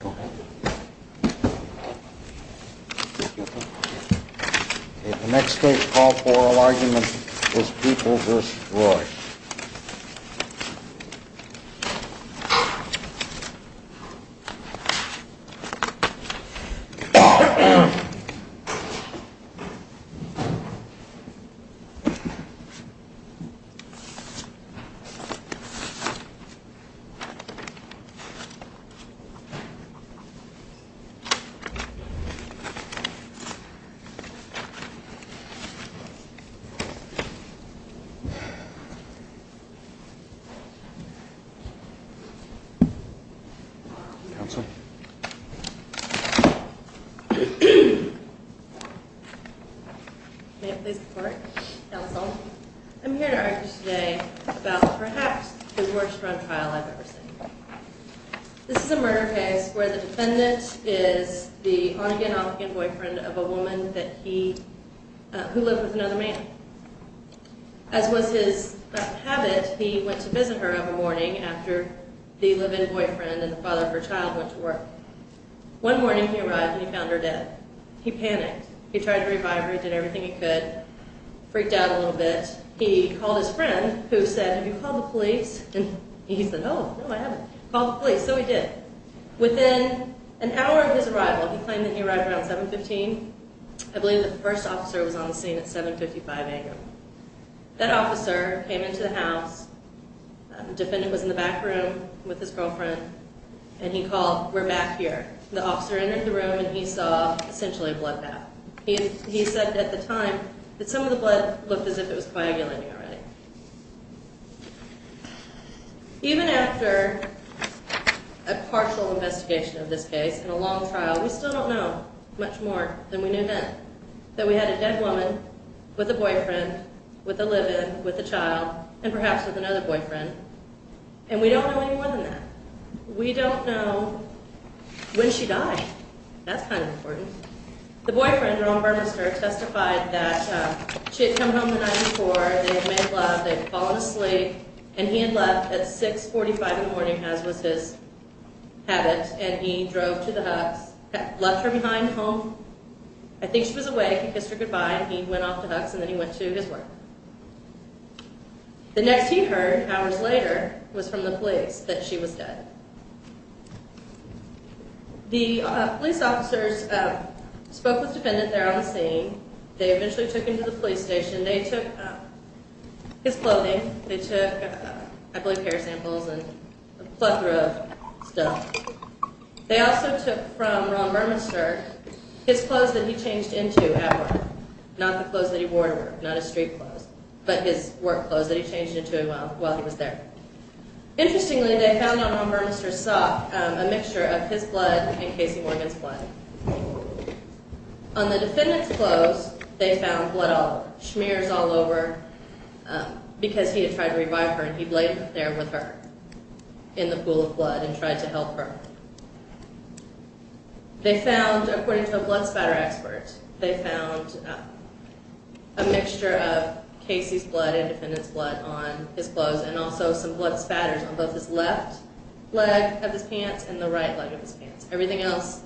The next state's call for oral argument was Peoples v. Roye. I'm here to argue today about perhaps the worst run trial I've ever seen. This is a murder case where the defendant is the on-again, off-again boyfriend of a woman who lived with another man. As was his habit, he went to visit her every morning after the live-in boyfriend and the father of her child went to work. One morning he arrived and he found her dead. He panicked. He tried to revive her. He did everything he could. He got a little bit freaked out a little bit. He called his friend who said, have you called the police? And he said, oh, no, I haven't. Called the police. So he did. Within an hour of his arrival, he claimed that he arrived around 7.15. I believe that the first officer was on the scene at 7.55 a.m. That officer came into the house. The defendant was in the back room with his girlfriend. And he called, we're back here. The officer entered the room and he saw essentially a bloodbath. He said at the time that some of the blood looked as if it was coagulating already. Even after a partial investigation of this case and a long trial, we still don't know much more than we knew then. That we had a dead woman with a boyfriend, with a live-in, with a child, and perhaps with another boyfriend. And we don't know any more than that. We don't know when she died. That's kind of important. The boyfriend, Ron Burmester, testified that she had come home the night before. They had made love. They had fallen asleep. And he had left at 6.45 in the morning, as was his habit. And he drove to the Huck's, left her behind home. I think she was awake. He kissed her goodbye. He went off to Huck's and then he went to his work. The next he heard, hours later, was from the police that she was dead. The police officers spoke with the defendant there on the scene. They eventually took him to the police station. They took his clothing. They took, I believe, hair samples and a plethora of stuff. They also took from Ron Burmester his clothes that he changed into at work. Not the clothes that he wore to work. Not his street clothes. But his work clothes that he changed into while he was there. Interestingly, they found on Ron Burmester's sock a mixture of his blood and Casey Morgan's blood. On the defendant's clothes, they found blood all over. Shmears all over because he had tried to revive her. And he laid there with her in the pool of blood and tried to help her. They found, according to the blood spatter expert, they found a mixture of Casey's blood and the defendant's blood on his clothes. And also some blood spatters on both his left leg of his pants and the right leg of his pants. Everything else,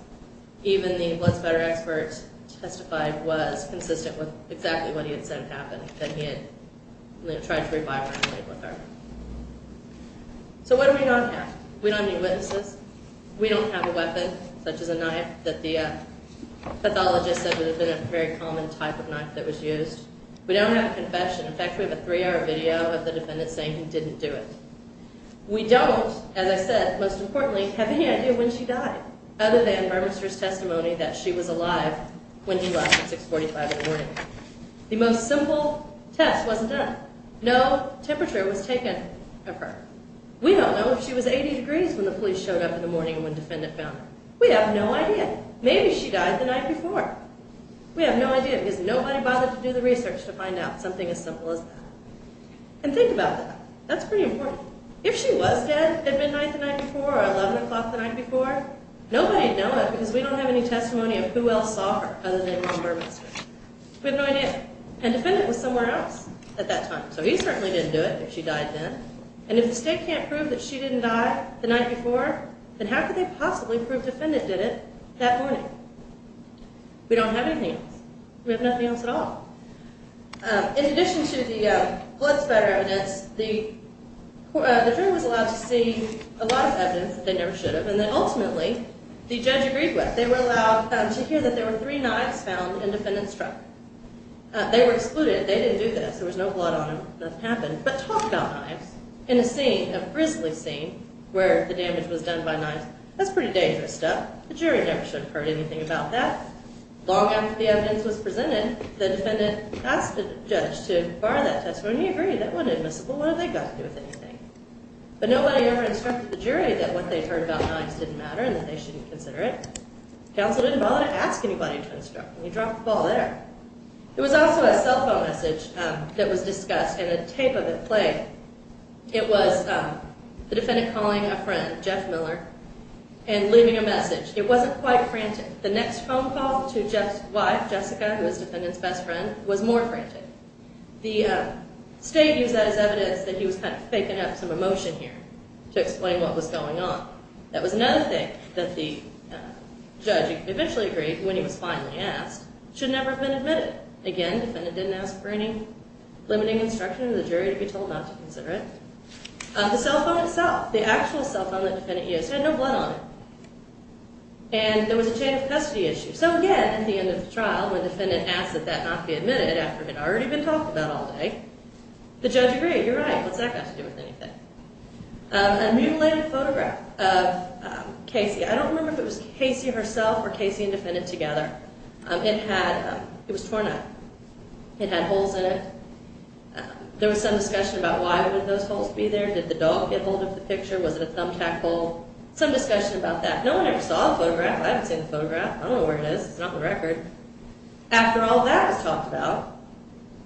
even the blood spatter expert testified, was consistent with exactly what he had said had happened. That he had tried to revive her and lay with her. So what do we not have? We don't have any witnesses. We don't have a weapon, such as a knife that the pathologist said would have been a very common type of knife that was used. We don't have a confession. In fact, we have a three-hour video of the defendant saying he didn't do it. We don't, as I said, most importantly, have any idea when she died. Other than Burmester's testimony that she was alive when he left at 645 in the morning. The most simple test wasn't done. No temperature was taken of her. We don't know if she was 80 degrees when the police showed up in the morning and when the defendant found her. We have no idea. Maybe she died the night before. We have no idea because nobody bothered to do the research to find out something as simple as that. And think about that. That's pretty important. If she was dead at midnight the night before or 11 o'clock the night before, nobody would know it because we don't have any testimony of who else saw her other than Ron Burmester. We have no idea. And the defendant was somewhere else at that time. So he certainly didn't do it if she died then. And if the state can't prove that she didn't die the night before, then how could they possibly prove the defendant did it that morning? We don't have anything else. We have nothing else at all. In addition to the blood spatter evidence, the jury was allowed to see a lot of evidence that they never should have. And then ultimately, the judge agreed with. They were allowed to hear that there were three knives found in the defendant's truck. They were excluded. They didn't do this. There was no blood on them. Nothing happened. But talk about knives. In a scene, a grisly scene, where the damage was done by knives, that's pretty dangerous stuff. The jury never should have heard anything about that. Long after the evidence was presented, the defendant asked the judge to bar that testimony. And he agreed. That wasn't admissible. What have they got to do with anything? But nobody ever instructed the jury that what they heard about knives didn't matter and that they shouldn't consider it. Counsel didn't bother to ask anybody to instruct. And he dropped the ball there. There was also a cell phone message that was discussed, and a tape of it playing. It was the defendant calling a friend, Jeff Miller, and leaving a message. It wasn't quite frantic. The next phone call to Jeff's wife, Jessica, who was the defendant's best friend, was more frantic. The state used that as evidence that he was kind of faking up some emotion here to explain what was going on. That was another thing that the judge eventually agreed, when he was finally asked, should never have been admitted. Again, the defendant didn't ask for any limiting instruction of the jury to be told not to consider it. The cell phone itself, the actual cell phone that the defendant used, had no blood on it. And there was a chain of custody issue. So again, at the end of the trial, when the defendant asked that that not be admitted after it had already been talked about all day, the judge agreed. You're right. What's that got to do with anything? A mutilated photograph of Casey. I don't remember if it was Casey herself or Casey and the defendant together. It was torn up. It had holes in it. There was some discussion about why would those holes be there. Did the dog get hold of the picture? Was it a thumbtack hole? Some discussion about that. No one ever saw the photograph. I haven't seen the photograph. I don't know where it is. It's not on the record. After all that was talked about,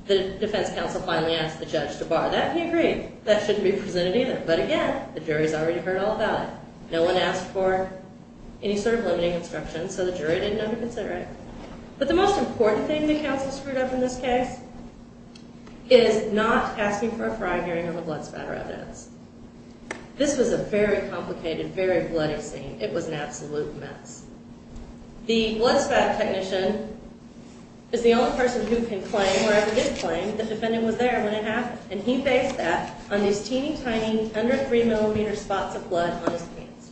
the defense counsel finally asked the judge to bar that, and he agreed. That shouldn't be presented either. But again, the jury's already heard all about it. No one asked for any sort of limiting instructions, so the jury didn't know to consider it. But the most important thing the counsel screwed up in this case is not asking for a prior hearing of a blood spatter evidence. This was a very complicated, very bloody scene. It was an absolute mess. The blood spatter technician is the only person who can claim or ever did claim the defendant was there when it happened, and he based that on these teeny tiny, under three millimeter spots of blood on his pants.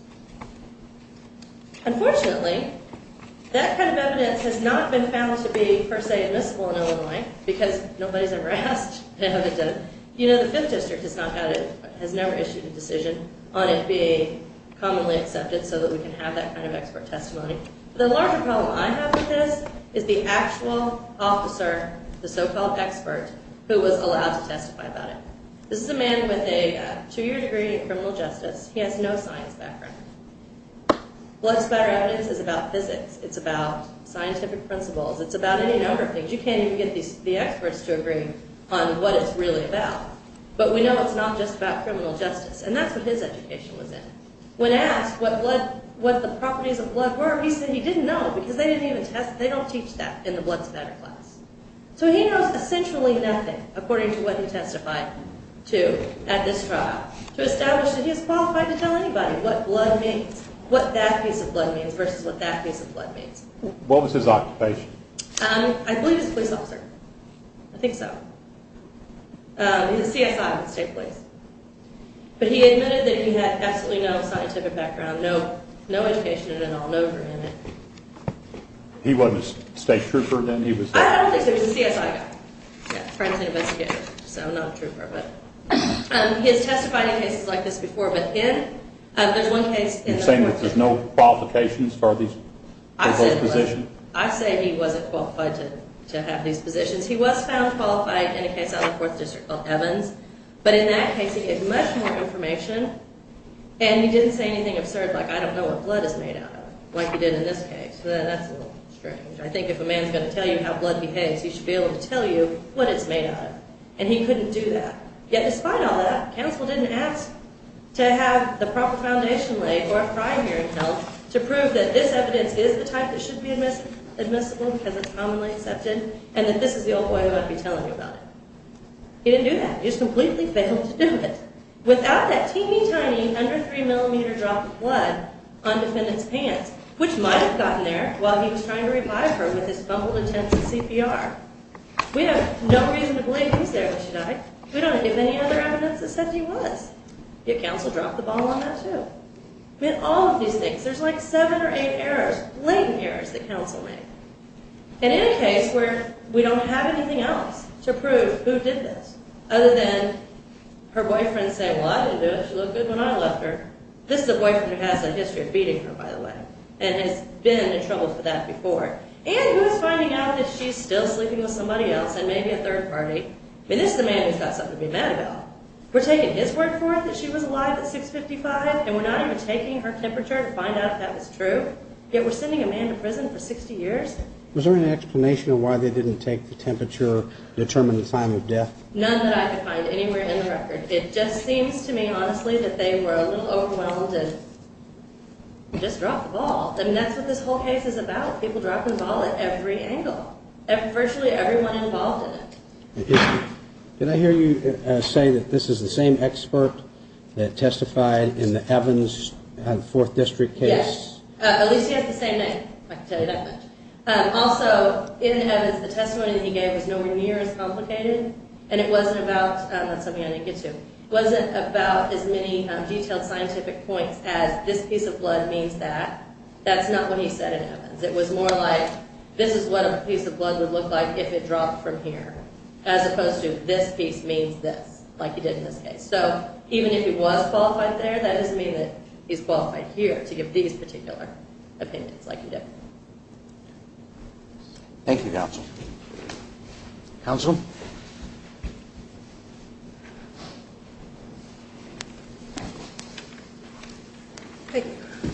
Unfortunately, that kind of evidence has not been found to be, per se, admissible in Illinois, because nobody's ever asked for evidence. You know, the Fifth District has never issued a decision on it being commonly accepted so that we can have that kind of expert testimony. The larger problem I have with this is the actual officer, the so-called expert, who was allowed to testify about it. This is a man with a two-year degree in criminal justice. He has no science background. Blood spatter evidence is about physics. It's about scientific principles. It's about any number of things. You can't even get the experts to agree on what it's really about. But we know it's not just about criminal justice, and that's what his education was in. When asked what the properties of blood were, he said he didn't know, because they don't teach that in the blood spatter class. So he knows essentially nothing, according to what he testified to at this trial, to establish that he is qualified to tell anybody what blood means, what that piece of blood means versus what that piece of blood means. What was his occupation? I believe he was a police officer. I think so. He was a CSI with the State Police. But he admitted that he had absolutely no scientific background, no education at all, no degree in it. He wasn't a state trooper, then? I don't think so. He was a CSI guy. Yeah, crime scene investigator, so not a trooper. He has testified in cases like this before, but again, there's one case in which... You're saying that there's no qualifications for those positions? I say he wasn't qualified to have these positions. He was found qualified in a case out of the 4th District called Evans. But in that case, he gave much more information, and he didn't say anything absurd like, I don't know what blood is made out of, like he did in this case. That's a little strange. I think if a man's going to tell you how blood behaves, he should be able to tell you what it's made out of. And he couldn't do that. Yet despite all that, counsel didn't ask to have the proper foundation laid or a prior hearing held to prove that this evidence is the type that should be admissible because it's commonly accepted and that this is the old boy who ought to be telling you about it. He didn't do that. He just completely failed to do it. Without that teeny tiny, under 3 millimeter drop of blood on defendant's pants, which might have gotten there while he was trying to revive her with his fumbled attempts at CPR. We have no reason to believe he's there, but should I? We don't have any other evidence that says he was. Yet counsel dropped the ball on that too. I mean, all of these things, there's like 7 or 8 errors, blatant errors that counsel made. And in a case where we don't have anything else to prove who did this, other than her boyfriend saying, well, I didn't do it. She looked good when I left her. This is a boyfriend who has a history of beating her, by the way, and has been in trouble for that before. And who's finding out that she's still sleeping with somebody else and maybe a third party. I mean, this is a man who's got something to be mad about. We're taking his word for it that she was alive at 655 and we're not even taking her temperature to find out if that was true. Yet we're sending a man to prison for 60 years? Was there an explanation of why they didn't take the temperature to determine the time of death? None that I could find anywhere in the record. It just seems to me, honestly, that they were a little overwhelmed and just dropped the ball. I mean, that's what this whole case is about. People drop the ball at every angle. Virtually everyone involved in it. Did I hear you say that this is the same expert that testified in the Evans Fourth District case? Yes. At least he has the same name, if I can tell you that much. Also, in Evans, the testimony that he gave was nowhere near as complicated. And it wasn't about, that's something I didn't get to, it wasn't about as many detailed scientific points as this piece of blood means that. That's not what he said in Evans. It was more like this is what a piece of blood would look like if it dropped from here. As opposed to this piece means this, like he did in this case. So even if he was qualified there, that doesn't mean that he's qualified here to give these particular opinions like he did. Thank you, Counsel. Counsel? May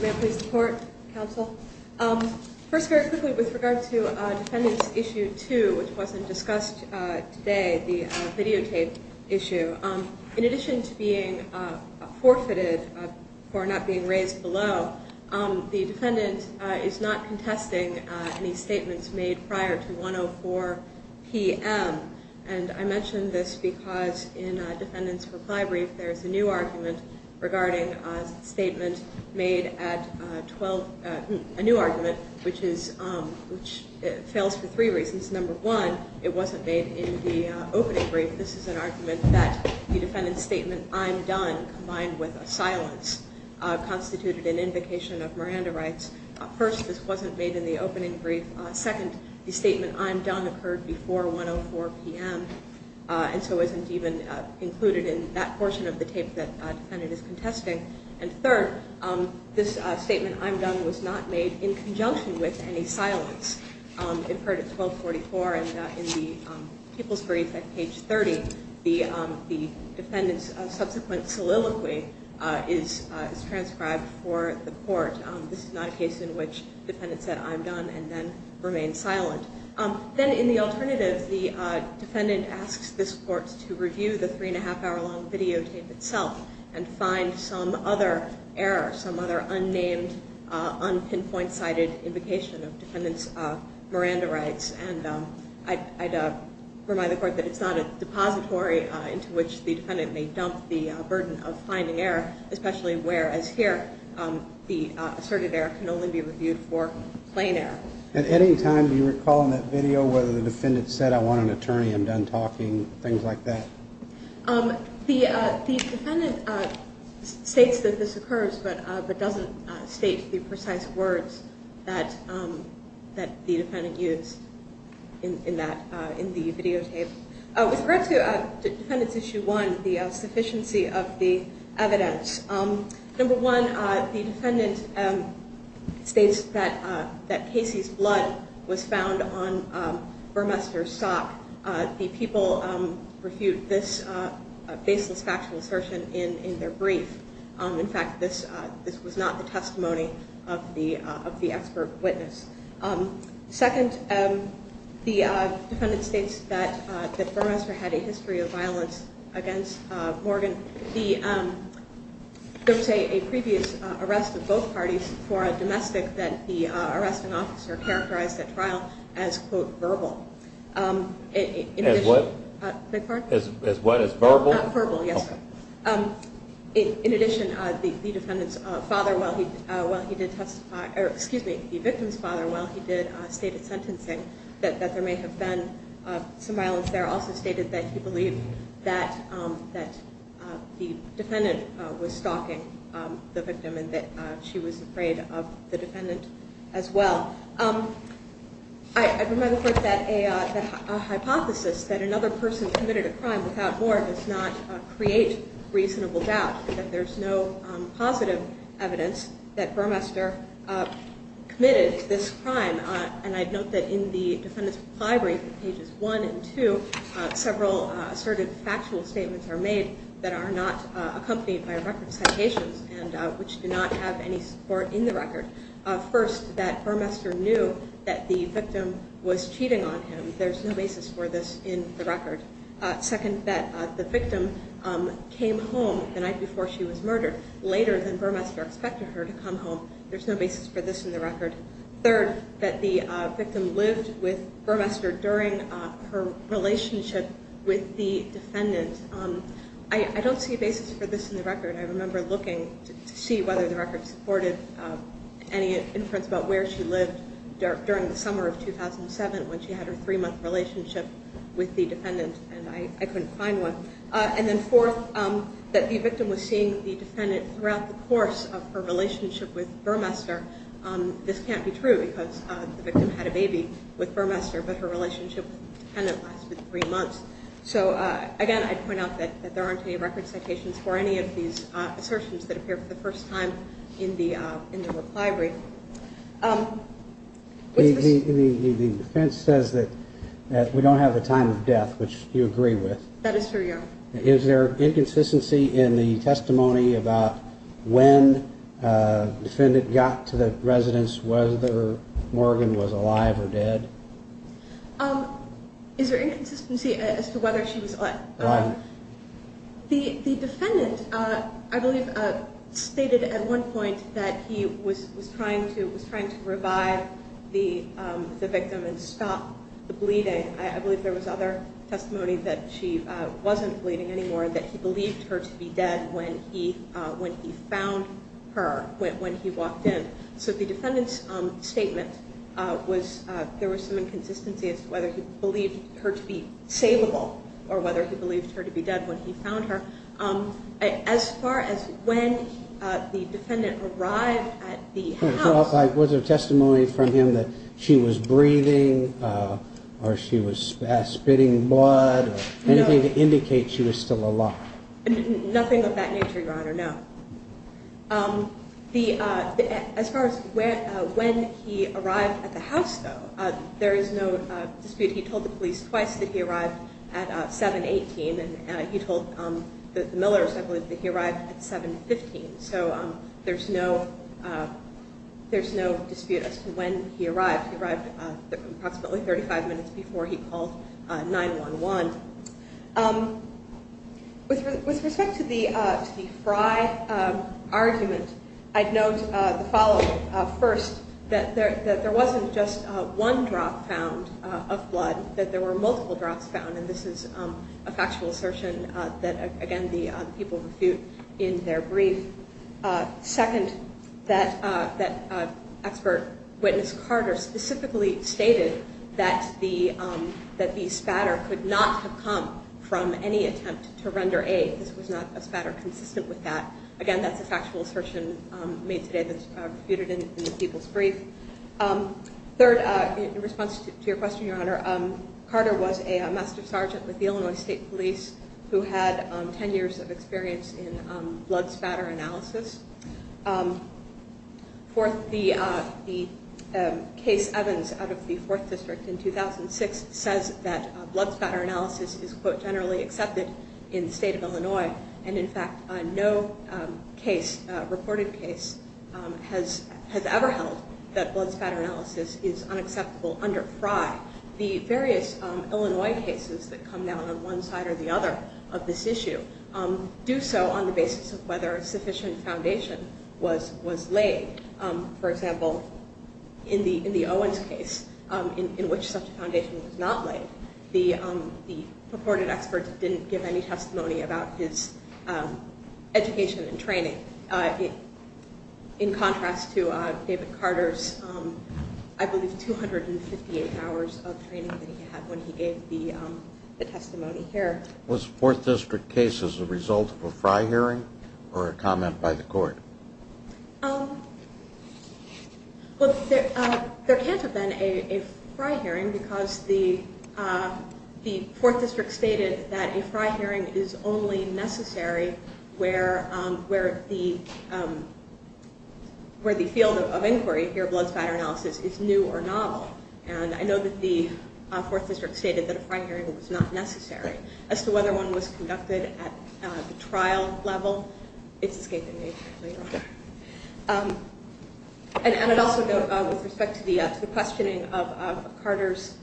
I please report, Counsel? First, very quickly, with regard to Defendant Issue 2, which wasn't discussed today, the videotape issue. In addition to being forfeited for not being raised below, the defendant is not contesting any statements made prior to 1.04 p.m. And I mention this because in a defendant's reply brief, there's a new argument regarding a statement made at 12, a new argument, which is, which fails for three reasons. Number one, it wasn't made in the opening brief. This is an argument that the defendant's statement, I'm done, combined with a silence, constituted an invocation of Miranda rights. First, this wasn't made in the opening brief. Second, the statement, I'm done, occurred before 1.04 p.m., and so isn't even included in that portion of the tape that the defendant is contesting. And third, this statement, I'm done, was not made in conjunction with any silence. It occurred at 12.44, and in the people's brief at page 30, the defendant's subsequent soliloquy is transcribed for the court. This is not a case in which the defendant said, I'm done, and then remained silent. Then, in the alternative, the defendant asks this court to review the three-and-a-half-hour-long videotape itself and find some other error, some other unnamed, unpinpoint-sided invocation of defendant's Miranda rights. And I'd remind the court that it's not a depository into which the defendant may dump the burden of finding error, especially where, as here, the asserted error can only be reviewed for plain error. At any time, do you recall in that video whether the defendant said, I want an attorney, I'm done talking, things like that? The defendant states that this occurs, but doesn't state the precise words that the defendant used in the videotape. With regards to Defendant's Issue 1, the sufficiency of the evidence, number one, the defendant states that Casey's blood was found on Burmester's sock. The people refute this baseless factual assertion in their brief. In fact, this was not the testimony of the expert witness. Second, the defendant states that Burmester had a history of violence against Morgan. There was a previous arrest of both parties for a domestic that the arresting officer characterized at trial as, quote, verbal. As what? Beg your pardon? As what, as verbal? Verbal, yes. Okay. In addition, the defendant's father, while he did testify, or excuse me, the victim's father, while he did state his sentencing, that there may have been some violence there, also stated that he believed that the defendant was stalking the victim and that she was afraid of the defendant as well. I'd remind the Court that a hypothesis that another person committed a crime without warrant does not create reasonable doubt, that there's no positive evidence that Burmester committed this crime. And I'd note that in the Defendant's Supply Brief, pages 1 and 2, several assertive factual statements are made that are not accompanied by a record of citations, and which do not have any support in the record. First, that Burmester knew that the victim was cheating on him. There's no basis for this in the record. Second, that the victim came home the night before she was murdered, later than Burmester expected her to come home. There's no basis for this in the record. Third, that the victim lived with Burmester during her relationship with the defendant. I don't see a basis for this in the record. I remember looking to see whether the record supported any inference about where she lived during the summer of 2007, when she had her three-month relationship with the defendant, and I couldn't find one. And then fourth, that the victim was seeing the defendant throughout the course of her relationship with Burmester. This can't be true, because the victim had a baby with Burmester, but her relationship with the defendant lasted three months. So, again, I'd point out that there aren't any record citations for any of these assertions that appear for the first time in the reply brief. The defense says that we don't have the time of death, which you agree with. That is true, yes. Is there inconsistency in the testimony about when the defendant got to the residence, whether Morgan was alive or dead? Is there inconsistency as to whether she was alive? The defendant, I believe, stated at one point that he was trying to revive the victim and stop the bleeding. I believe there was other testimony that she wasn't bleeding anymore, that he believed her to be dead when he found her, when he walked in. So the defendant's statement was there was some inconsistency as to whether he believed her to be salable or whether he believed her to be dead when he found her. As far as when the defendant arrived at the house. Was there testimony from him that she was breathing or she was spitting blood or anything to indicate she was still alive? Nothing of that nature, Your Honor, no. As far as when he arrived at the house, though, there is no dispute. He told the police twice that he arrived at 7-18 and he told the millers, I believe, that he arrived at 7-15. So there's no dispute as to when he arrived. He arrived approximately 35 minutes before he called 911. With respect to the Fry argument, I'd note the following. First, that there wasn't just one drop found of blood, that there were multiple drops found. And this is a factual assertion that, again, the people refute in their brief. Second, that expert witness Carter specifically stated that the spatter could not have come from any attempt to render aid. This was not a spatter consistent with that. Again, that's a factual assertion made today that's refuted in the people's brief. Third, in response to your question, Your Honor, Carter was a master sergeant with the Illinois State Police who had 10 years of experience in blood spatter analysis. Fourth, the case Evans out of the 4th District in 2006 says that blood spatter analysis is, quote, generally accepted in the state of Illinois. And, in fact, no case, reported case, has ever held that blood spatter analysis is unacceptable under Fry. The various Illinois cases that come down on one side or the other of this issue do so on the basis of whether a sufficient foundation was laid. For example, in the Owens case, in which such a foundation was not laid, the purported expert didn't give any testimony about his education and training. In contrast to David Carter's, I believe, 258 hours of training that he had when he gave the testimony here. Was the 4th District case as a result of a Fry hearing or a comment by the court? Well, there can't have been a Fry hearing because the 4th District stated that a Fry hearing is only necessary where the field of inquiry here, blood spatter analysis, is new or novel. And I know that the 4th District stated that a Fry hearing was not necessary. As to whether one was conducted at the trial level, it's escaping me. And I'd also note, with respect to the questioning of Carter's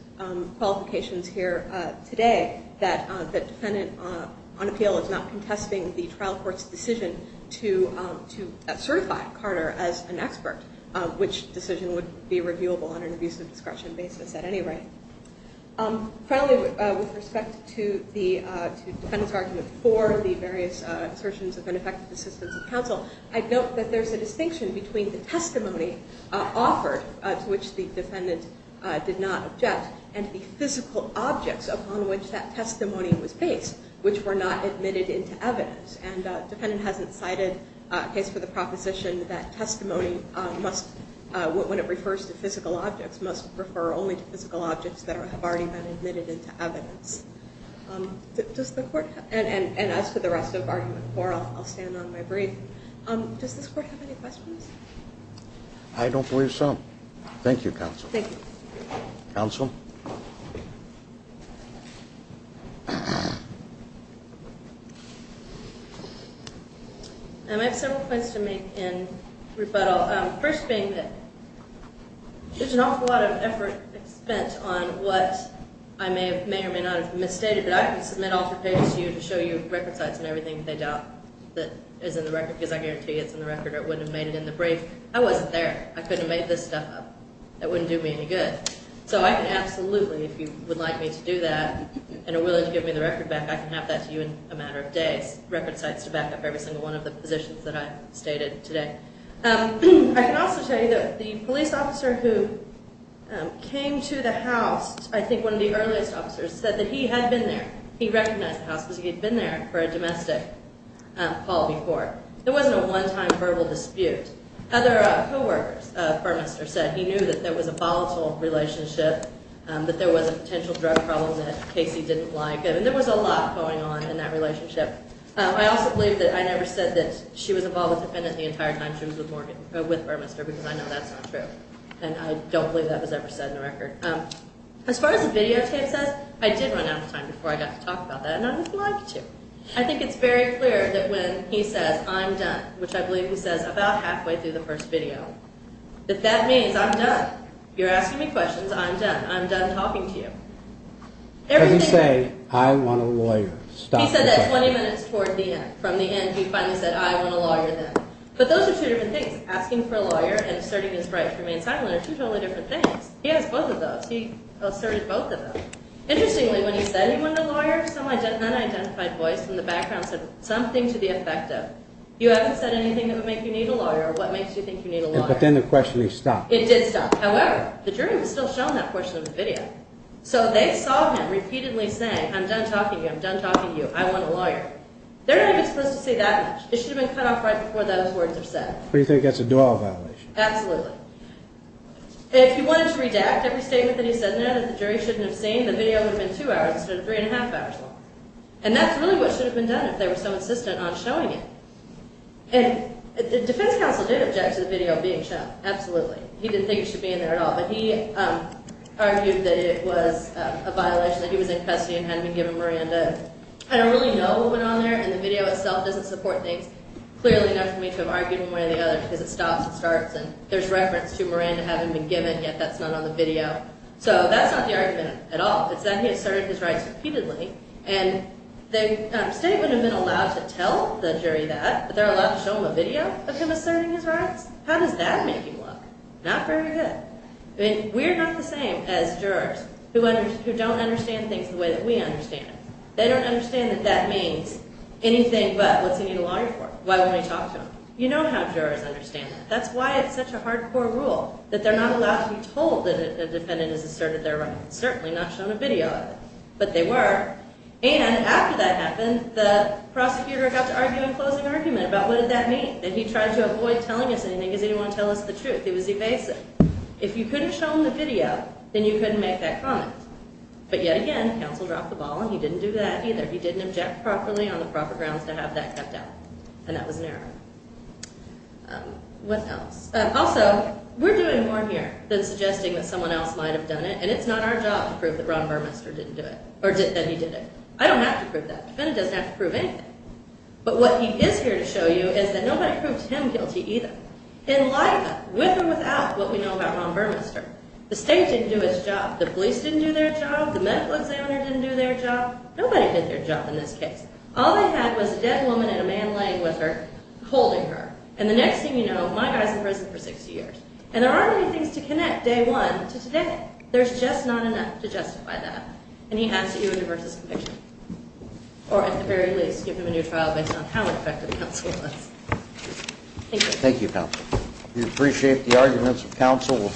qualifications here today, that the defendant on appeal is not contesting the trial court's decision to certify Carter as an expert, which decision would be reviewable on an abuse of discretion basis at any rate. Finally, with respect to the defendant's argument for the various assertions of ineffective assistance of counsel, I'd note that there's a distinction between the testimony offered, to which the defendant did not object, and the physical objects upon which that testimony was based, which were not admitted into evidence. And the defendant hasn't cited a case for the proposition that testimony must, when it refers to physical objects, must refer only to physical objects that have already been admitted into evidence. And as for the rest of argument four, I'll stand on my brief. Does this court have any questions? I don't believe so. Thank you, counsel. Thank you. Counsel? I have several points to make in rebuttal. First being that there's an awful lot of effort spent on what I may or may not have misstated, but I can submit altercations to you to show you record sites and everything they doubt that is in the record, because I guarantee you it's in the record or it wouldn't have made it in the brief. I wasn't there. I couldn't have made this stuff up. That wouldn't do me any good. So I can absolutely, if you would like me to do that, and are willing to give me the record back, I can have that to you in a matter of days, record sites to back up every single one of the positions that I've stated today. I can also tell you that the police officer who came to the house, I think one of the earliest officers, said that he had been there. He recognized the house because he had been there for a domestic call before. There wasn't a one-time verbal dispute. Other co-workers of Burmester said he knew that there was a volatile relationship, that there was a potential drug problem that Casey didn't like, and there was a lot going on in that relationship. I also believe that I never said that she was involved with the defendant the entire time she was with Burmester, because I know that's not true, and I don't believe that was ever said in the record. As far as the videotape says, I did run out of time before I got to talk about that, and I would like to. I think it's very clear that when he says, I'm done, which I believe he says about halfway through the first video, that that means I'm done. You're asking me questions, I'm done. I'm done talking to you. As he said, I want a lawyer. He said that 20 minutes toward the end. From the end, he finally said, I want a lawyer then. But those are two different things. Asking for a lawyer and asserting his right to remain silent are two totally different things. He has both of those. He asserted both of them. Interestingly, when he said he wanted a lawyer, some unidentified voice in the background said something to the effect of, you haven't said anything that would make you need a lawyer, or what makes you think you need a lawyer. But then the questioning stopped. It did stop. However, the jury was still shown that portion of the video. So they saw him repeatedly saying, I'm done talking to you, I'm done talking to you, I want a lawyer. They're not even supposed to say that much. It should have been cut off right before those words were said. So you think that's a dual violation? Absolutely. If he wanted to redact every statement that he said in there that the jury shouldn't have seen, the video would have been two hours instead of three and a half hours long. And that's really what should have been done if they were so insistent on showing it. And the defense counsel did object to the video being shown. Absolutely. He didn't think it should be in there at all. But he argued that it was a violation, that he was in custody and hadn't been given Miranda. I don't really know what went on there. And the video itself doesn't support things clearly enough for me to have argued one way or the other, because it stops and starts. And there's reference to Miranda having been given, yet that's not on the video. So that's not the argument at all. It's that he asserted his rights repeatedly. And the statement had been allowed to tell the jury that, but they're allowed to show them a video of him asserting his rights? How does that make him look? Not very good. I mean, we're not the same as jurors who don't understand things the way that we understand them. They don't understand that that means anything but what's he need a lawyer for? Why won't he talk to them? You know how jurors understand that. That's why it's such a hardcore rule that they're not allowed to be told that a defendant has asserted their rights, certainly not shown a video of it. But they were. And after that happened, the prosecutor got to arguing a closing argument about what did that mean. And he tried to avoid telling us anything because he didn't want to tell us the truth. It was evasive. If you couldn't show him the video, then you couldn't make that comment. But yet again, counsel dropped the ball, and he didn't do that either. He didn't object properly on the proper grounds to have that kept out. And that was an error. What else? Also, we're doing more here than suggesting that someone else might have done it, and it's not our job to prove that Ron Burmester didn't do it or that he did it. I don't have to prove that. The defendant doesn't have to prove anything. But what he is here to show you is that nobody proved him guilty either, in life, with or without what we know about Ron Burmester. The state didn't do its job. The police didn't do their job. The medical examiner didn't do their job. Nobody did their job in this case. All they had was a dead woman and a man laying with her, holding her. And the next thing you know, my guy's in prison for 60 years. And there aren't any things to connect day one to today. There's just not enough to justify that. And he has to do a diverse conviction. Or, at the very least, give him a new trial based on how effective the counsel was. Thank you. Thank you, counsel. We appreciate the arguments of counsel.